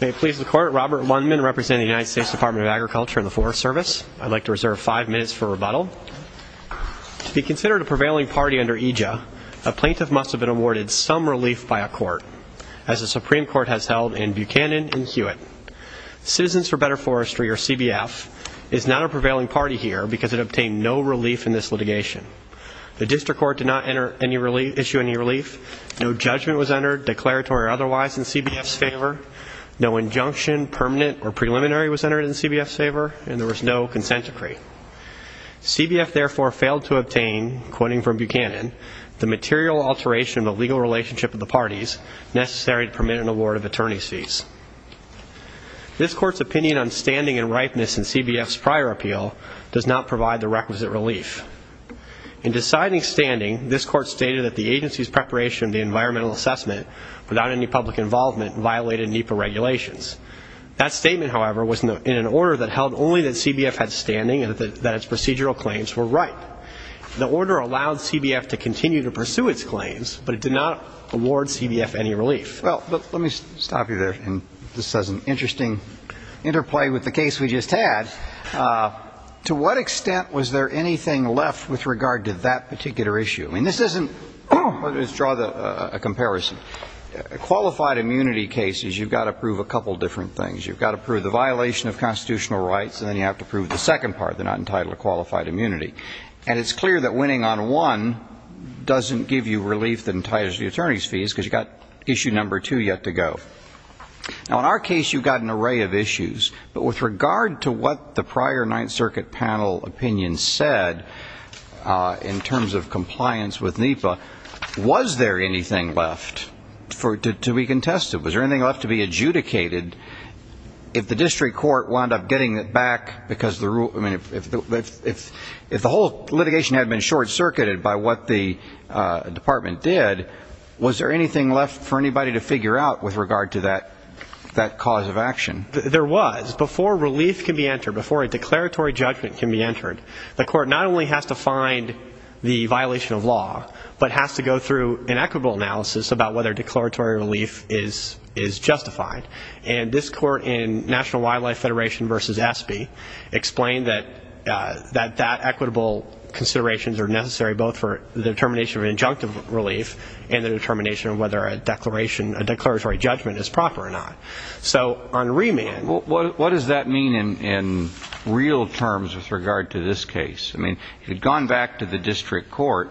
May it please the court, Robert Lundman representing the United States Department of Agriculture and the Forest Service. I'd like to reserve five minutes for rebuttal. To be considered a prevailing party under EJA, a plaintiff must have been awarded some relief by a court, as the Supreme Court has held in Buchanan and Hewitt. Citizens for Better Forestry, or CBF, is not a prevailing party here because it obtained no relief in this litigation. The district court did not issue any relief. No judgment was entered, declaratory or otherwise, in CBF's favor. No injunction, permanent or preliminary was entered in CBF's favor, and there was no consent decree. CBF, therefore, failed to obtain, quoting from Buchanan, the material alteration of the legal relationship of the parties necessary to permit an award of attorney's fees. This court's opinion on standing and ripeness in CBF's prior appeal does not provide the requisite relief. In deciding standing, this court stated that the agency's preparation of the environmental assessment without any public involvement violated NEPA regulations. That statement, however, was in an order that held only that CBF had standing and that its procedural claims were ripe. The order allowed CBF to continue to pursue its claims, but it did not award CBF any relief. Well, let me stop you there. This has an interesting interplay with the case we just had. To what extent was there anything left with regard to that particular issue? I mean, this isn't, let's draw a comparison. Qualified immunity cases, you've got to prove a couple different things. You've got to prove the violation of constitutional rights, and then you have to prove the second part. They're not entitled to qualified immunity. And it's clear that winning on one doesn't give you relief that entitles you to attorney's fees because you've got issue number two yet to go. Now, in our case, you've got an array of issues. But with regard to what the prior Ninth Circuit panel opinion said in terms of compliance with NEPA, was there anything left to be contested? Was there anything left to be adjudicated? If the district court wound up getting it back because the rule, I mean, if the whole litigation had been short-circuited by what the department did, was there anything left for anybody to figure out with regard to that cause of action? There was. Before relief can be entered, before a declaratory judgment can be entered, the court not only has to find the violation of law, but has to go through an equitable analysis about whether declaratory relief is justified. And this court in National Wildlife Federation v. ESPE explained that that equitable considerations are necessary, both for the determination of an injunctive relief and the determination of whether a declaratory judgment is proper or not. So on remand. What does that mean in real terms with regard to this case? I mean, had gone back to the district court,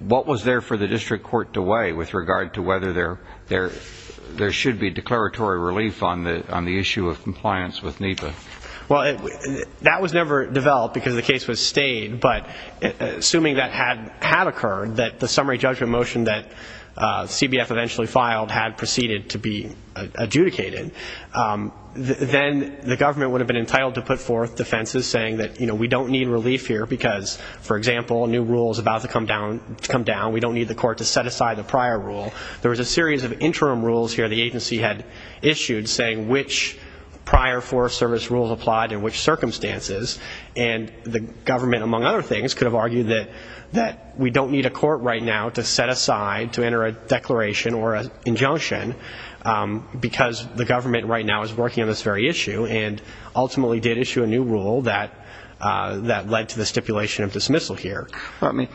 what was there for the district court to weigh with regard to whether there should be declaratory relief on the issue of compliance with NEPA? Well, that was never developed because the case was stayed, but assuming that had occurred, that the summary judgment motion that CBF eventually filed had proceeded to be adjudicated, then the government would have been entitled to put forth defenses saying that, you know, we don't need relief here because, for example, a new rule is about to come down, we don't need the court to set aside the prior rule. There was a series of interim rules here the agency had issued saying which prior forest service rules applied in which circumstances, and the government, among other things, could have argued that we don't need a court right now to set aside to enter a declaration or an injunction, because the government right now is working on this very issue and ultimately did issue a new rule that led to the stipulation of dismissal here. I mean,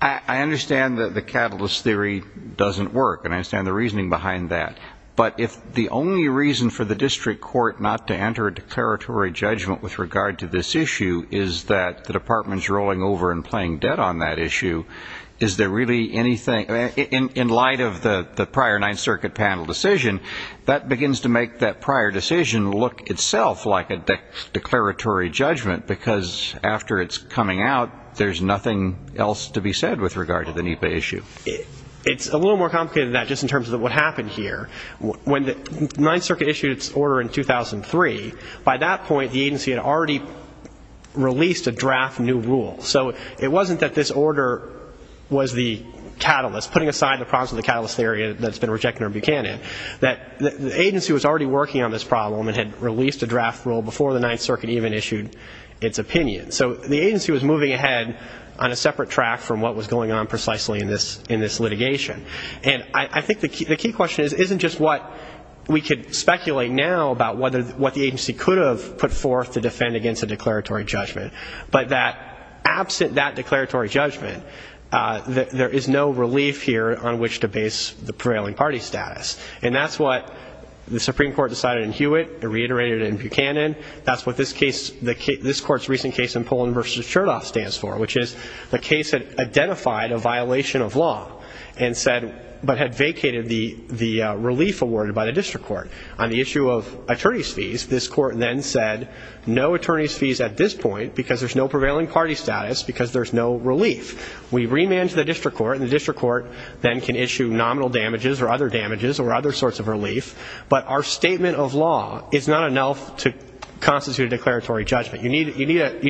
I understand that the catalyst theory doesn't work, and I understand the reasoning behind that, but if the only reason for the district court not to enter a declaratory judgment with regard to this issue is that the department's rolling over and paying debt on that issue, is there really anything, in light of the prior Ninth Circuit panel decision, that begins to make that prior decision look itself like a declaratory judgment, because after it's coming out, there's nothing else to be said with regard to the NEPA issue. It's a little more complicated than that just in terms of what happened here. When the Ninth Circuit issued its order in 2003, by that point the agency had already released a draft new rule. So it wasn't that this order was the catalyst, putting aside the problems of the catalyst theory that's been rejected in Buchanan, that the agency was already working on this problem and had released a draft rule before the Ninth Circuit even issued its opinion. So the agency was moving ahead on a separate track from what was going on precisely in this litigation. And I think the key question isn't just what we could speculate now about what the agency could have put forth to defend against a declaratory judgment, but that absent that declaratory judgment, there is no relief here on which to base the prevailing party status. And that's what the Supreme Court decided in Hewitt, reiterated in Buchanan. That's what this court's recent case in Poland v. Chertoff stands for, which is the case that identified a violation of law but had vacated the relief awarded by the district court. On the issue of attorney's fees, this court then said, no attorney's fees at this point because there's no prevailing party status, because there's no relief. We remand to the district court, and the district court then can issue nominal damages or other damages or other sorts of relief. But our statement of law is not enough to constitute a declaratory judgment. You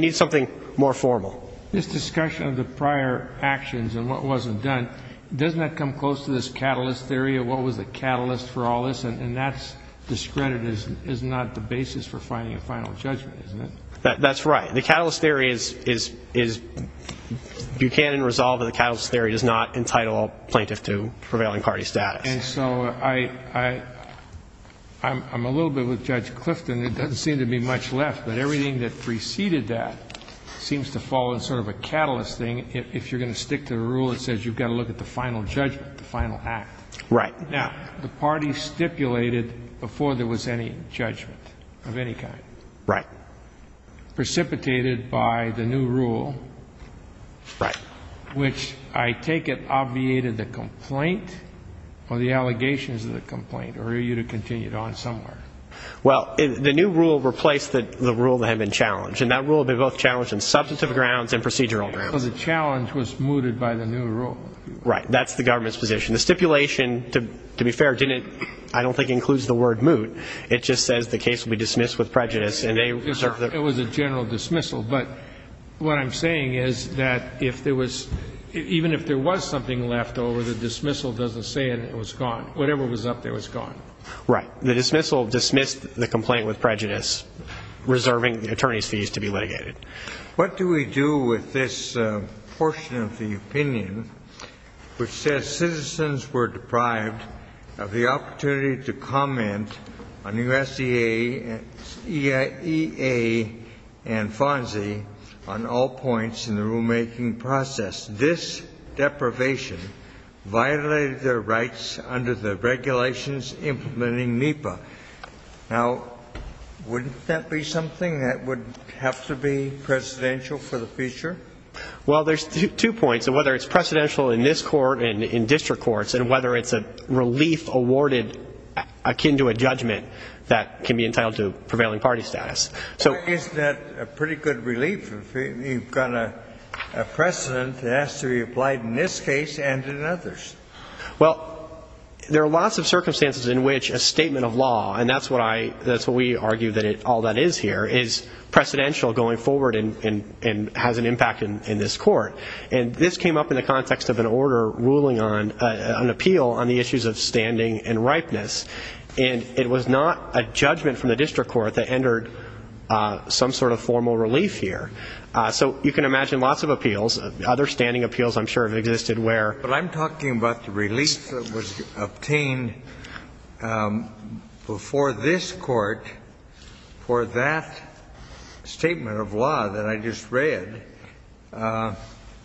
need something more formal. This discussion of the prior actions and what wasn't done, doesn't that come close to this catalyst theory of what was the catalyst for all this? And that's discredited as not the basis for finding a final judgment, isn't it? That's right. The catalyst theory is Buchanan resolved that the catalyst theory does not entitle a plaintiff to prevailing party status. And so I'm a little bit with Judge Clifton. There doesn't seem to be much left, but everything that preceded that seems to fall in sort of a catalyst thing. If you're going to stick to the rule, it says you've got to look at the final judgment, the final act. Right. Now, the party stipulated before there was any judgment of any kind. Right. Precipitated by the new rule. Right. Which I take it obviated the complaint or the allegations of the complaint or you would have continued on somewhere. Well, the new rule replaced the rule that had been challenged, and that rule had been both challenged on substantive grounds and procedural grounds. So the challenge was mooted by the new rule. Right. That's the government's position. The stipulation, to be fair, I don't think includes the word moot. It just says the case will be dismissed with prejudice. It was a general dismissal. But what I'm saying is that even if there was something left over, the dismissal doesn't say it was gone. Whatever was up there was gone. Right. The dismissal dismissed the complaint with prejudice, reserving the attorney's fees to be litigated. What do we do with this portion of the opinion which says citizens were deprived of the opportunity to comment on USEA and FONSI on all points in the rulemaking process? This deprivation violated their rights under the regulations implementing NEPA. Now, wouldn't that be something that would have to be presidential for the future? Well, there's two points. Whether it's presidential in this court and in district courts, and whether it's a relief awarded akin to a judgment that can be entitled to prevailing party status. Isn't that a pretty good relief? You've got a precedent that has to be applied in this case and in others. Well, there are lots of circumstances in which a statement of law, and that's what we argue all that is here, is precedential going forward and has an impact in this court. And this came up in the context of an order ruling on, an appeal on the issues of standing and ripeness. And it was not a judgment from the district court that entered some sort of formal relief here. So you can imagine lots of appeals, other standing appeals I'm sure have existed where. But I'm talking about the relief that was obtained before this court for that statement of law that I just read.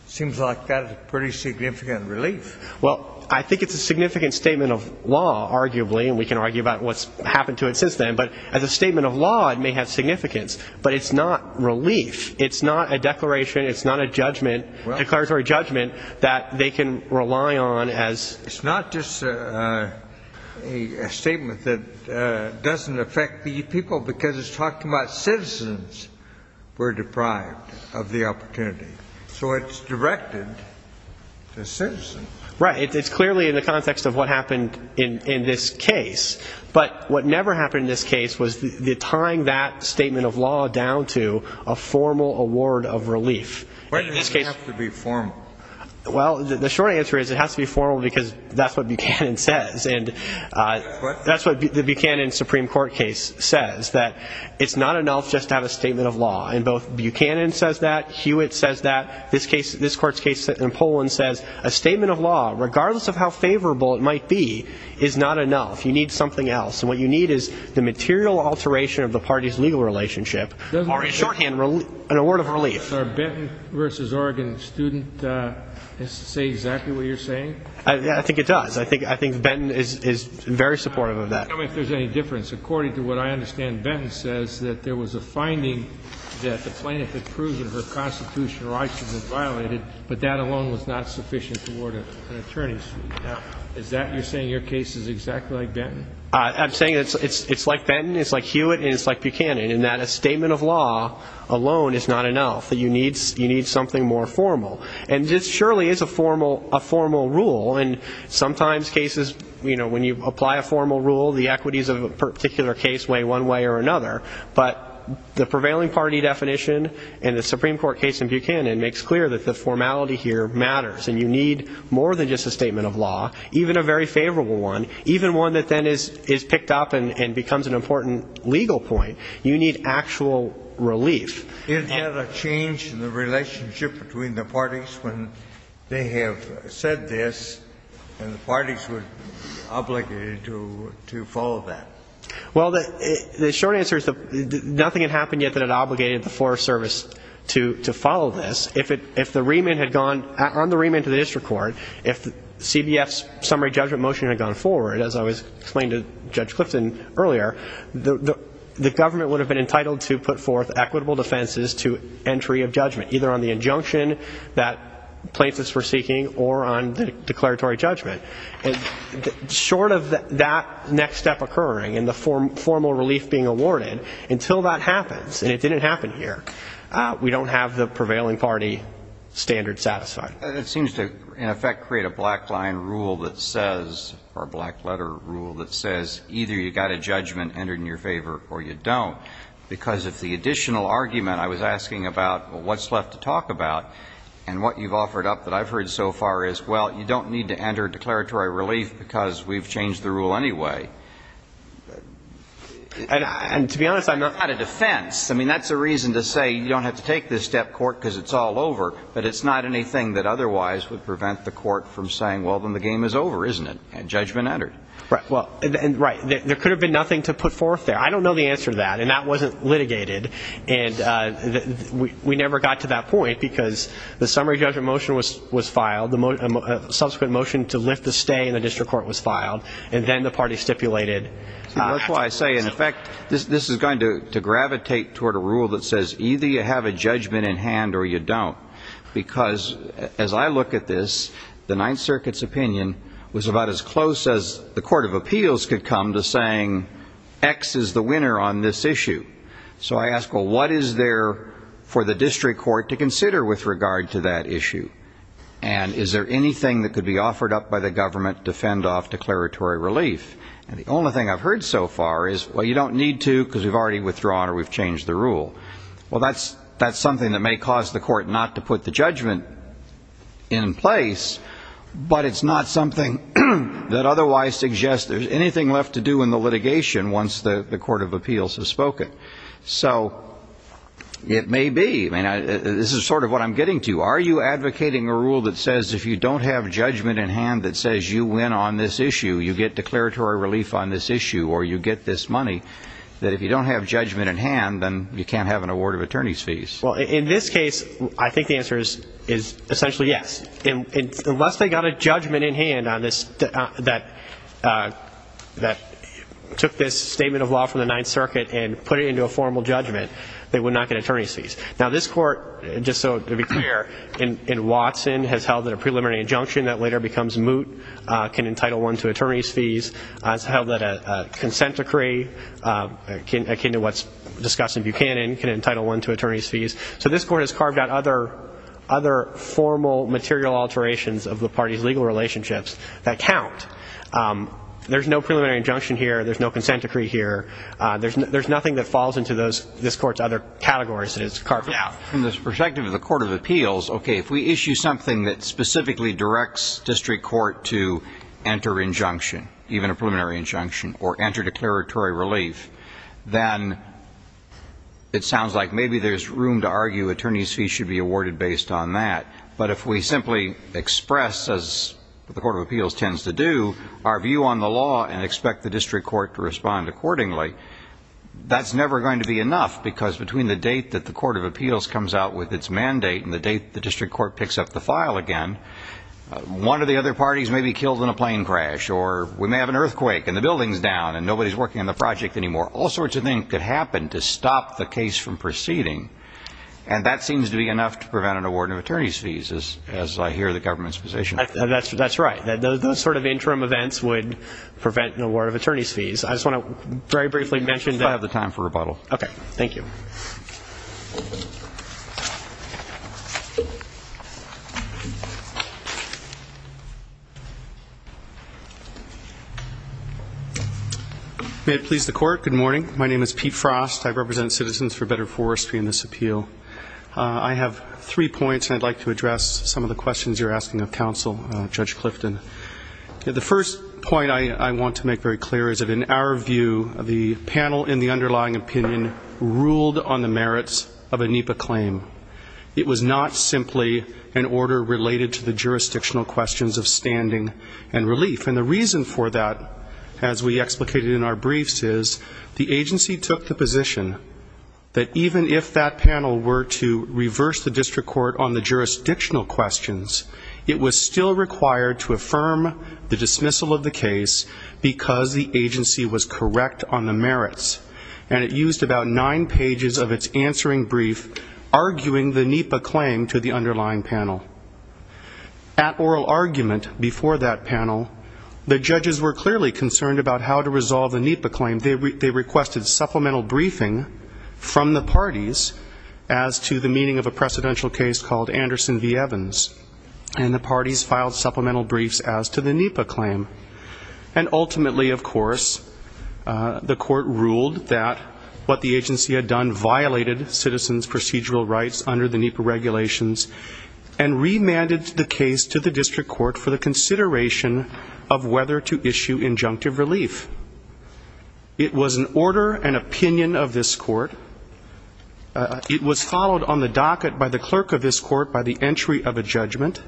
Seems like that's a pretty significant relief. Well, I think it's a significant statement of law, arguably. And we can argue about what's happened to it since then. But as a statement of law, it may have significance. But it's not relief. It's not a declaration. It's not a judgment, declaratory judgment that they can rely on as... It's not just a statement that doesn't affect the people, because it's talking about citizens who are deprived of the opportunity. So it's directed to citizens. Right. It's clearly in the context of what happened in this case. But what never happened in this case was tying that statement of law down to a formal award of relief. Why does it have to be formal? Well, the short answer is it has to be formal because that's what Buchanan says. And that's what the Buchanan Supreme Court case says, that it's not enough just to have a statement of law. And both Buchanan says that. Hewitt says that. This court's case in Poland says a statement of law, regardless of how favorable it might be, is not enough. You need something else. And what you need is the material alteration of the party's legal relationship or, in shorthand, an award of relief. Does our Benton v. Oregon student say exactly what you're saying? I think it does. I think Benton is very supportive of that. Tell me if there's any difference. According to what I understand, Benton says that there was a finding that the plaintiff had proven her constitutional rights had been violated, but that alone was not sufficient to award her an attorney's fee. Is that what you're saying? Your case is exactly like Benton? I'm saying it's like Benton, it's like Hewitt, and it's like Buchanan, in that a statement of law alone is not enough. You need something more formal. And this surely is a formal rule. And sometimes cases, you know, when you apply a formal rule, the equities of a particular case weigh one way or another. But the prevailing party definition in the Supreme Court case in Buchanan makes clear that the formality here matters, and you need more than just a statement of law, even a very favorable one, even one that then is picked up and becomes an important legal point. You need actual relief. Is there a change in the relationship between the parties when they have said this and the parties were obligated to follow that? Well, the short answer is nothing had happened yet that had obligated the Forest Service to follow this. If the remand had gone on the remand to the district court, if CBF's summary judgment motion had gone forward, as I was explaining to Judge Clifton earlier, the government would have been entitled to put forth equitable defenses to entry of judgment, either on the injunction that plaintiffs were seeking or on the declaratory judgment. Short of that next step occurring and the formal relief being awarded, until that happens, and it didn't happen here, we don't have the prevailing party standard satisfied. It seems to, in effect, create a black line rule that says, or a black letter rule that says, either you've got a judgment entered in your favor or you don't. Because if the additional argument I was asking about, well, what's left to talk about, and what you've offered up that I've heard so far is, well, you don't need to enter declaratory relief because we've changed the rule anyway. And to be honest, I'm not out of defense. I mean, that's a reason to say you don't have to take this step, court, because it's all over, but it's not anything that otherwise would prevent the court from saying, well, then the game is over, isn't it? And judgment entered. Right. There could have been nothing to put forth there. I don't know the answer to that, and that wasn't litigated. And we never got to that point because the summary judgment motion was filed, the subsequent motion to lift the stay in the district court was filed, and then the party stipulated. That's why I say, in effect, this is going to gravitate toward a rule that says, either you have a judgment in hand or you don't, because as I look at this, the Ninth Circuit's opinion was about as close as the court of appeals could come to saying X is the winner on this issue. So I ask, well, what is there for the district court to consider with regard to that issue? And is there anything that could be offered up by the government to fend off declaratory relief? And the only thing I've heard so far is, well, you don't need to because we've already withdrawn or we've changed the rule. Well, that's something that may cause the court not to put the judgment in place, but it's not something that otherwise suggests there's anything left to do in the litigation once the court of appeals has spoken. So it may be. I mean, this is sort of what I'm getting to. Are you advocating a rule that says if you don't have judgment in hand that says you win on this issue, you get declaratory relief on this issue or you get this money, that if you don't have judgment in hand, then you can't have an award of attorney's fees? Well, in this case, I think the answer is essentially yes. Unless they got a judgment in hand that took this statement of law from the Ninth Circuit and put it into a formal judgment, they would not get attorney's fees. Now, this court, just so to be clear, in Watson, has held that a preliminary injunction that later becomes moot can entitle one to attorney's fees. It's held that a consent decree, akin to what's discussed in Buchanan, can entitle one to attorney's fees. So this court has carved out other formal material alterations of the party's legal relationships that count. There's no preliminary injunction here. There's no consent decree here. There's nothing that falls into this court's other categories that it's carved out. From the perspective of the court of appeals, okay, if we issue something that specifically directs district court to enter injunction, even a preliminary injunction or enter declaratory relief, then it sounds like maybe there's room to argue attorney's fees should be awarded based on that. But if we simply express, as the court of appeals tends to do, our view on the law and expect the district court to respond accordingly, that's never going to be enough because between the date that the court of appeals comes out with its mandate and the date the district court picks up the file again, one of the other parties may be killed in a plane crash or we may have an earthquake and the building's down and nobody's working on the project anymore. All sorts of things could happen to stop the case from proceeding, and that seems to be enough to prevent an award of attorney's fees, as I hear the government's position. That's right. Those sort of interim events would prevent an award of attorney's fees. I just want to very briefly mention that. I have the time for rebuttal. Okay. Thank you. May it please the court, good morning. My name is Pete Frost. I represent Citizens for Better Forestry in this appeal. I have three points, and I'd like to address some of the questions you're asking of counsel, Judge Clifton. The first point I want to make very clear is that in our view, the panel in the underlying opinion ruled on the merits of a NEPA claim. It was not simply an order related to the jurisdictional questions of standing and relief. And the reason for that, as we explicated in our briefs, is the agency took the position that even if that panel were to reverse the district court on the jurisdictional questions, it was still required to affirm the dismissal of the case because the agency was correct on the merits. And it used about nine pages of its answering brief, arguing the NEPA claim to the underlying panel. At oral argument before that panel, the judges were clearly concerned about how to resolve the NEPA claim. They requested supplemental briefing from the parties as to the meaning of a precedential case called Anderson v. Evans. And the parties filed supplemental briefs as to the NEPA claim. And ultimately, of course, the court ruled that what the agency had done violated citizens' procedural rights under the NEPA regulations and remanded the case to the district court for the consideration of whether to issue injunctive relief. It was an order and opinion of this court. It was followed on the docket by the clerk of this court by the entry of a judgment.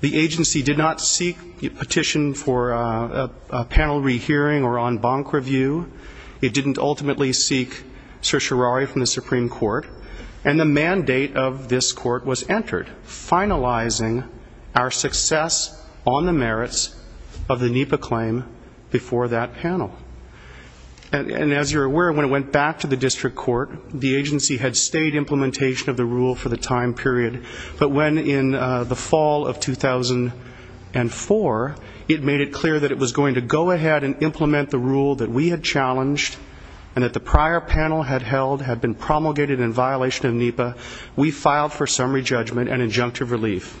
The agency did not seek a petition for a panel rehearing or en banc review. It didn't ultimately seek certiorari from the Supreme Court. And the mandate of this court was entered, finalizing our success on the merits of the NEPA claim before that panel. And as you're aware, when it went back to the district court, the agency had stayed implementation of the rule for the time period. But when in the fall of 2004, it made it clear that it was going to go ahead and implement the rule that we had challenged and that the prior panel had held had been promulgated in violation of NEPA, we filed for summary judgment and injunctive relief.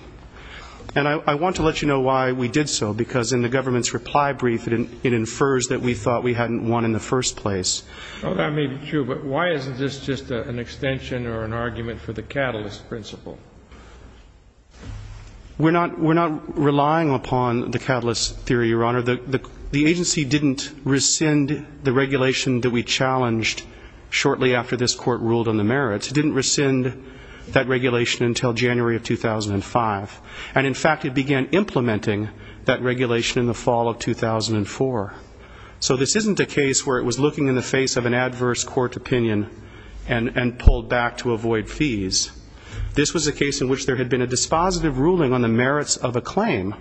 And I want to let you know why we did so, because in the government's reply brief, it infers that we thought we hadn't won in the first place. That may be true, but why isn't this just an extension or an argument for the catalyst principle? We're not relying upon the catalyst theory, Your Honor. The agency didn't rescind the regulation that we challenged shortly after this court ruled on the merits. It didn't rescind that regulation until January of 2005. And in fact, it began implementing that regulation in the fall of 2004. So this isn't a case where it was looking in the face of an adverse court opinion and pulled back to avoid fees. This was a case in which there had been a dispositive ruling on the merits of a claim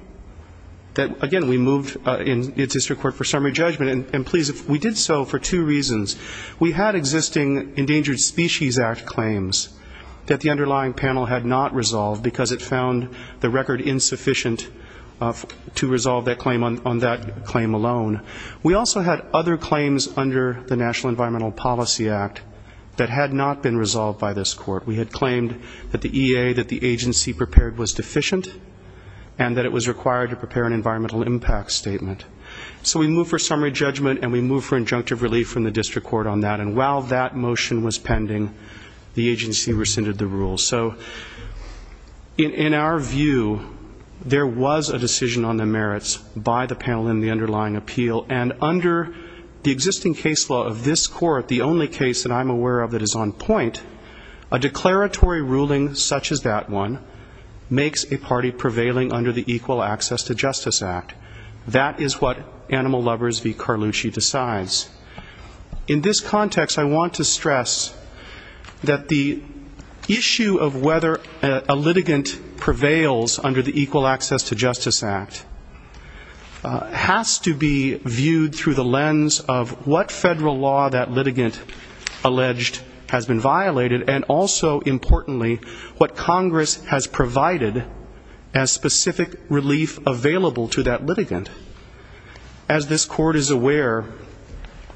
that, again, we moved in the district court for summary judgment. And please, we did so for two reasons. We had existing Endangered Species Act claims that the underlying panel had not resolved because it found the record insufficient to resolve that claim on that claim alone. We also had other claims under the National Environmental Policy Act that had not been resolved by this court. We had claimed that the EA that the agency prepared was deficient and that it was required to prepare an environmental impact statement. So we moved for summary judgment and we moved for injunctive relief from the district court on that. And while that motion was pending, the agency rescinded the rule. So in our view, there was a decision on the merits by the panel in the underlying appeal. And under the existing case law of this court, the only case that I'm aware of that is on point, a declaratory ruling such as that one makes a party prevailing under the Equal Access to Justice Act. That is what Animal Lovers v. Carlucci decides. In this context, I want to stress that the issue of whether a litigant prevails under the Equal Access to Justice Act has to be viewed as a matter of fact. It has to be viewed through the lens of what federal law that litigant alleged has been violated and also, importantly, what Congress has provided as specific relief available to that litigant. As this court is aware,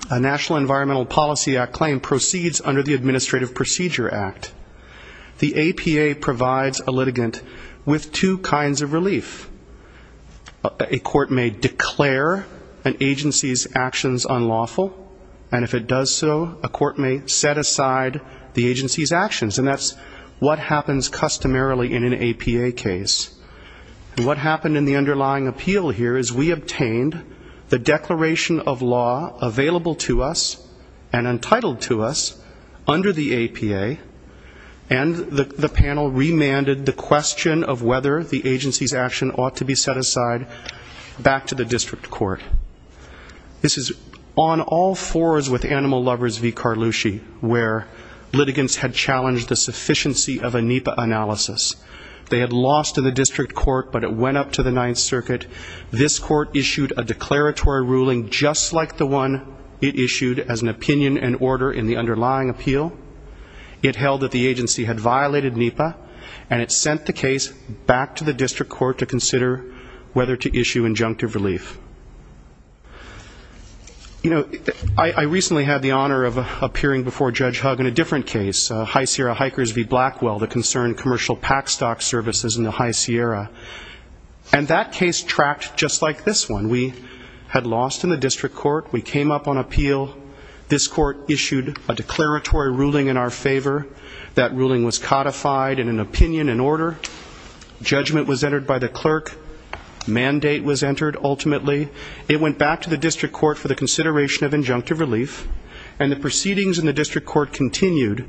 a National Environmental Policy Act claim proceeds under the Administrative Procedure Act. The APA provides a litigant with two kinds of relief. A court may declare an agency's actions unlawful, and if it does so, a court may set aside the agency's actions. And that's what happens customarily in an APA case. And what happened in the underlying appeal here is we obtained the declaration of law available to us and entitled to us under the APA, and the panel remanded the agency's action ought to be set aside back to the district court. This is on all fours with Animal Lovers v. Carlucci, where litigants had challenged the sufficiency of a NEPA analysis. They had lost in the district court, but it went up to the Ninth Circuit. This court issued a declaratory ruling just like the one it issued as an opinion and order in the underlying appeal. It held that the agency had violated NEPA, and it sent the case back to the district court to consider whether to issue injunctive relief. You know, I recently had the honor of appearing before Judge Hugg in a different case, High Sierra Hikers v. Blackwell, the concerned commercial pack stock services in the High Sierra, and that case tracked just like this one. We had lost in the district court. We came up on appeal. This court issued a declaratory ruling in our favor. That ruling was codified in an opinion and order. Judgment was entered by the clerk. Mandate was entered, ultimately. It went back to the district court for the consideration of injunctive relief, and the proceedings in the district court continued.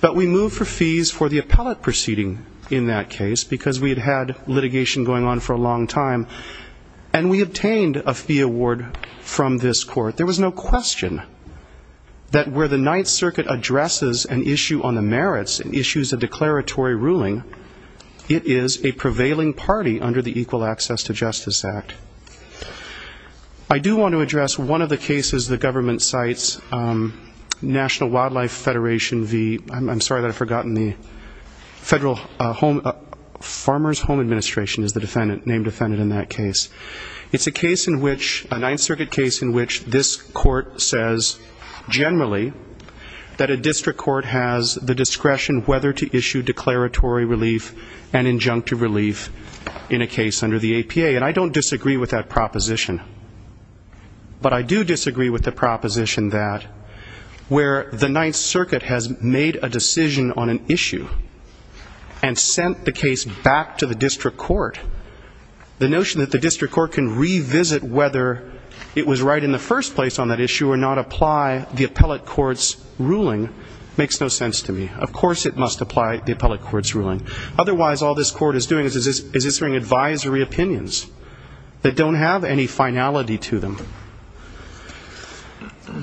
But we moved for fees for the appellate proceeding in that case, because we had had litigation going on for a long time, and we obtained a fee award from this court. There was no question that where the Ninth Circuit addresses an issue on the merits and issues a declaratory ruling, it is a prevailing party under the Equal Access to Justice Act. I do want to address one of the cases the government cites, National Wildlife Federation v. I'm sorry that I've forgotten the Federal Farmers Home Administration is the named defendant in that case. It's a case in which, a Ninth Circuit case in which this court says generally that a district court has the discretion whether to issue declaratory relief and injunctive relief in a case under the APA. And I don't disagree with that proposition. But I do disagree with the proposition that where the Ninth Circuit has made a decision on an issue and sent the case back to the district court, the notion that the district court can revisit whether it was right in the first place on that issue or not apply the appellate court's ruling makes no sense to me. Of course it must apply the appellate court's ruling. Otherwise, all this court is doing is issuing advisory opinions that don't have any finality to them.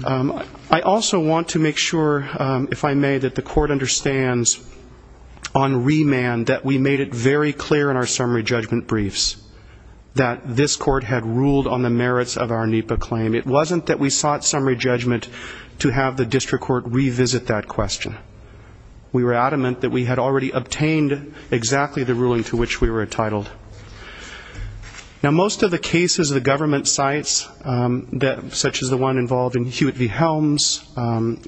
I also want to make sure, if I may, that the court understands on remand that we made it very clear in our service to the district court that the district court had not sought summary judgment briefs, that this court had ruled on the merits of our NEPA claim. It wasn't that we sought summary judgment to have the district court revisit that question. We were adamant that we had already obtained exactly the ruling to which we were entitled. Now, most of the cases the government cites, such as the one involved in Hewitt v. Helms,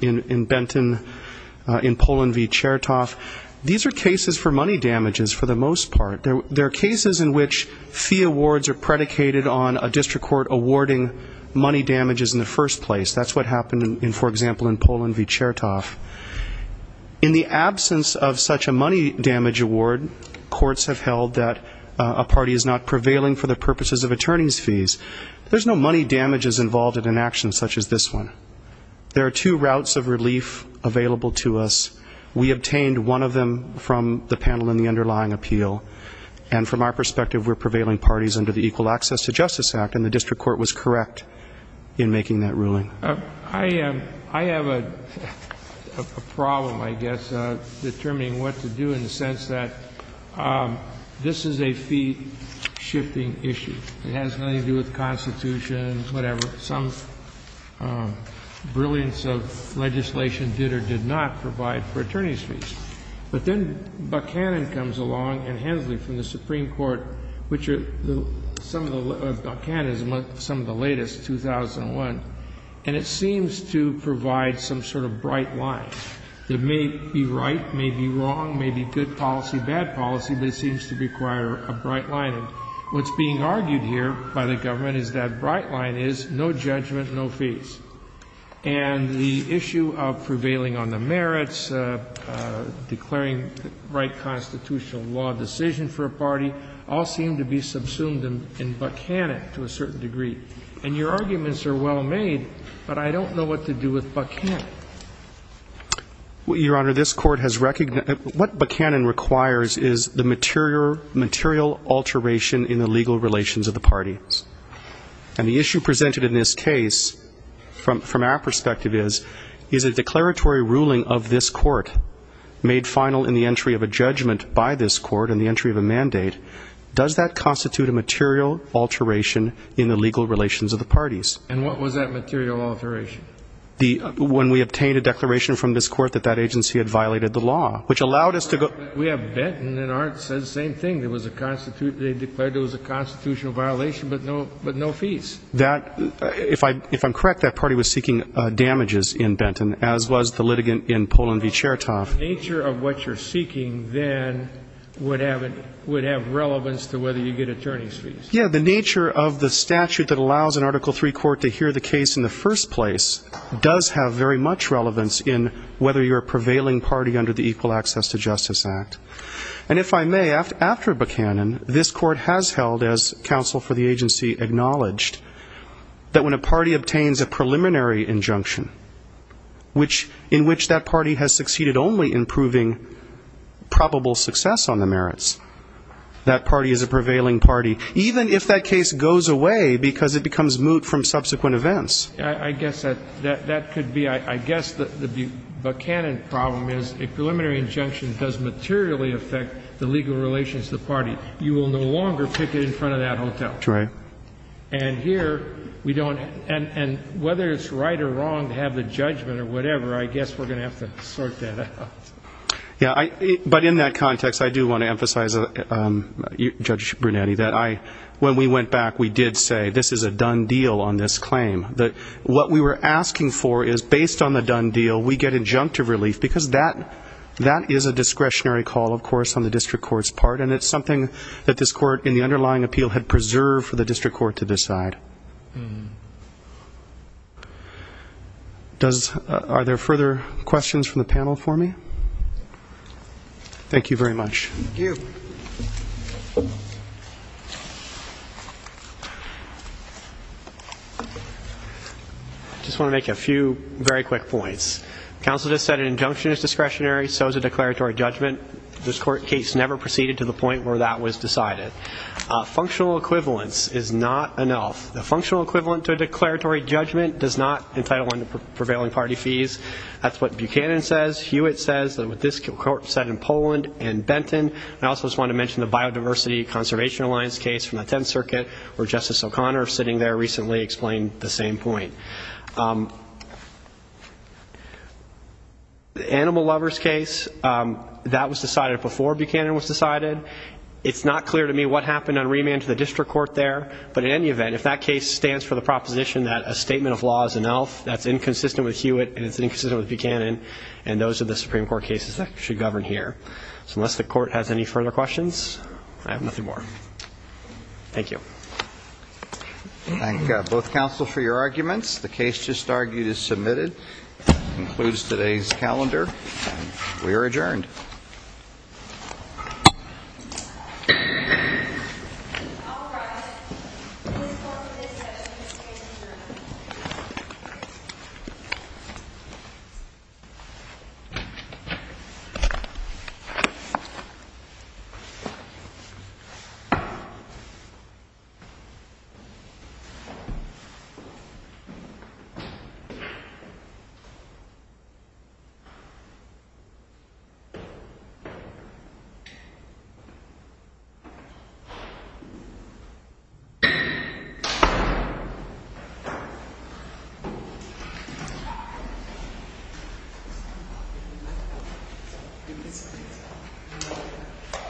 in Benton, in Pullen v. Chertoff, these are cases for which fee awards are predicated on a district court awarding money damages in the first place. That's what happened, for example, in Pullen v. Chertoff. In the absence of such a money damage award, courts have held that a party is not prevailing for the purposes of attorney's fees. There's no money damages involved in an action such as this one. There are two routes of relief available to us. We obtained one of them from the NEPA, and we were entitled in the underlying appeal. And from our perspective, we're prevailing parties under the Equal Access to Justice Act, and the district court was correct in making that ruling. I have a problem, I guess, determining what to do in the sense that this is a fee-shifting issue. It has nothing to do with the Constitution, whatever. Some brilliance of legislation did or did not provide for attorney's fees. But then Buckhannon said, well, you know, if you have a fee, you have to pay it. And so the line comes along, and Hensley from the Supreme Court, which are some of the latest, 2001, and it seems to provide some sort of bright line. It may be right, may be wrong, may be good policy, bad policy, but it seems to require a bright line. And what's being argued here by the government is that bright line is no judgment, no fees. And the issue of prevailing on the Constitutional law decision for a party all seem to be subsumed in Buckhannon to a certain degree. And your arguments are well made, but I don't know what to do with Buckhannon. Your Honor, this Court has recognized that what Buckhannon requires is the material alteration in the legal relations of the parties. And the issue presented in this case, from our perspective, is a declaratory ruling of this Court made final in the entry of a judgment on the Constitutional law decision by this Court in the entry of a mandate. Does that constitute a material alteration in the legal relations of the parties? And what was that material alteration? The, when we obtained a declaration from this Court that that agency had violated the law, which allowed us to go to the Court. We have Benton and Arndt said the same thing. There was a Constitutional, they declared there was a Constitutional violation, but no fees. That, if I'm correct, that party was seeking damages in Benton, as was the litigant in Poland v. Chertoff. The nature of what you're seeking then would have relevance to whether you get attorney's fees. Yeah, the nature of the statute that allows an Article III court to hear the case in the first place does have very much relevance in whether you're a prevailing party under the Equal Access to Justice Act. And if I may, after Buckhannon, this Court has held, as I said, that when a party obtains a preliminary injunction, in which that party has succeeded only in proving probable success on the merits, that party is a prevailing party, even if that case goes away because it becomes moot from subsequent events. I guess that could be, I guess the Buckhannon problem is a preliminary injunction does materially affect the legal relations of the party. You will no longer pick it in front of that hotel. And here, we don't, and whether it's right or wrong to have the judgment or whatever, I guess we're going to have to sort that out. Yeah, but in that context, I do want to emphasize, Judge Brunetti, that when we went back, we did say this is a done deal on this claim, that what we were asking for is, based on the done deal, we get injunctive relief, because that is a discretionary call, of course, something that this Court, in the underlying appeal, had preserved for the district court to decide. Does, are there further questions from the panel for me? Thank you very much. I just want to make a few very quick points. Counsel just said an injunction is discretionary, so is a declaratory judgment. This Court case never proceeded to the point where that was decided. Functional equivalence is not enough. The functional equivalent to a declaratory judgment does not entitle under prevailing party fees. That's what Buckhannon says. Hewitt says that what this Court said in Poland and Benton. I also just want to mention the Biodiversity Conservation Alliance case from the 10th Circuit, where Justice O'Connor, sitting there recently, explained the same point. The Animal Lovers case, that was decided before Buckhannon was decided. It's not clear to me what happened on remand to the district court there, but in any event, if that case stands for the proposition that a statement of law is an elf, that's inconsistent with Hewitt, and it's inconsistent with Buckhannon, and those are the Supreme Court cases that should govern here. So unless the Court has any further questions, I have nothing more. Thank you. Thank you, both counsel, for your arguments. The case just argued is submitted. That concludes today's calendar. We are adjourned. Thank you.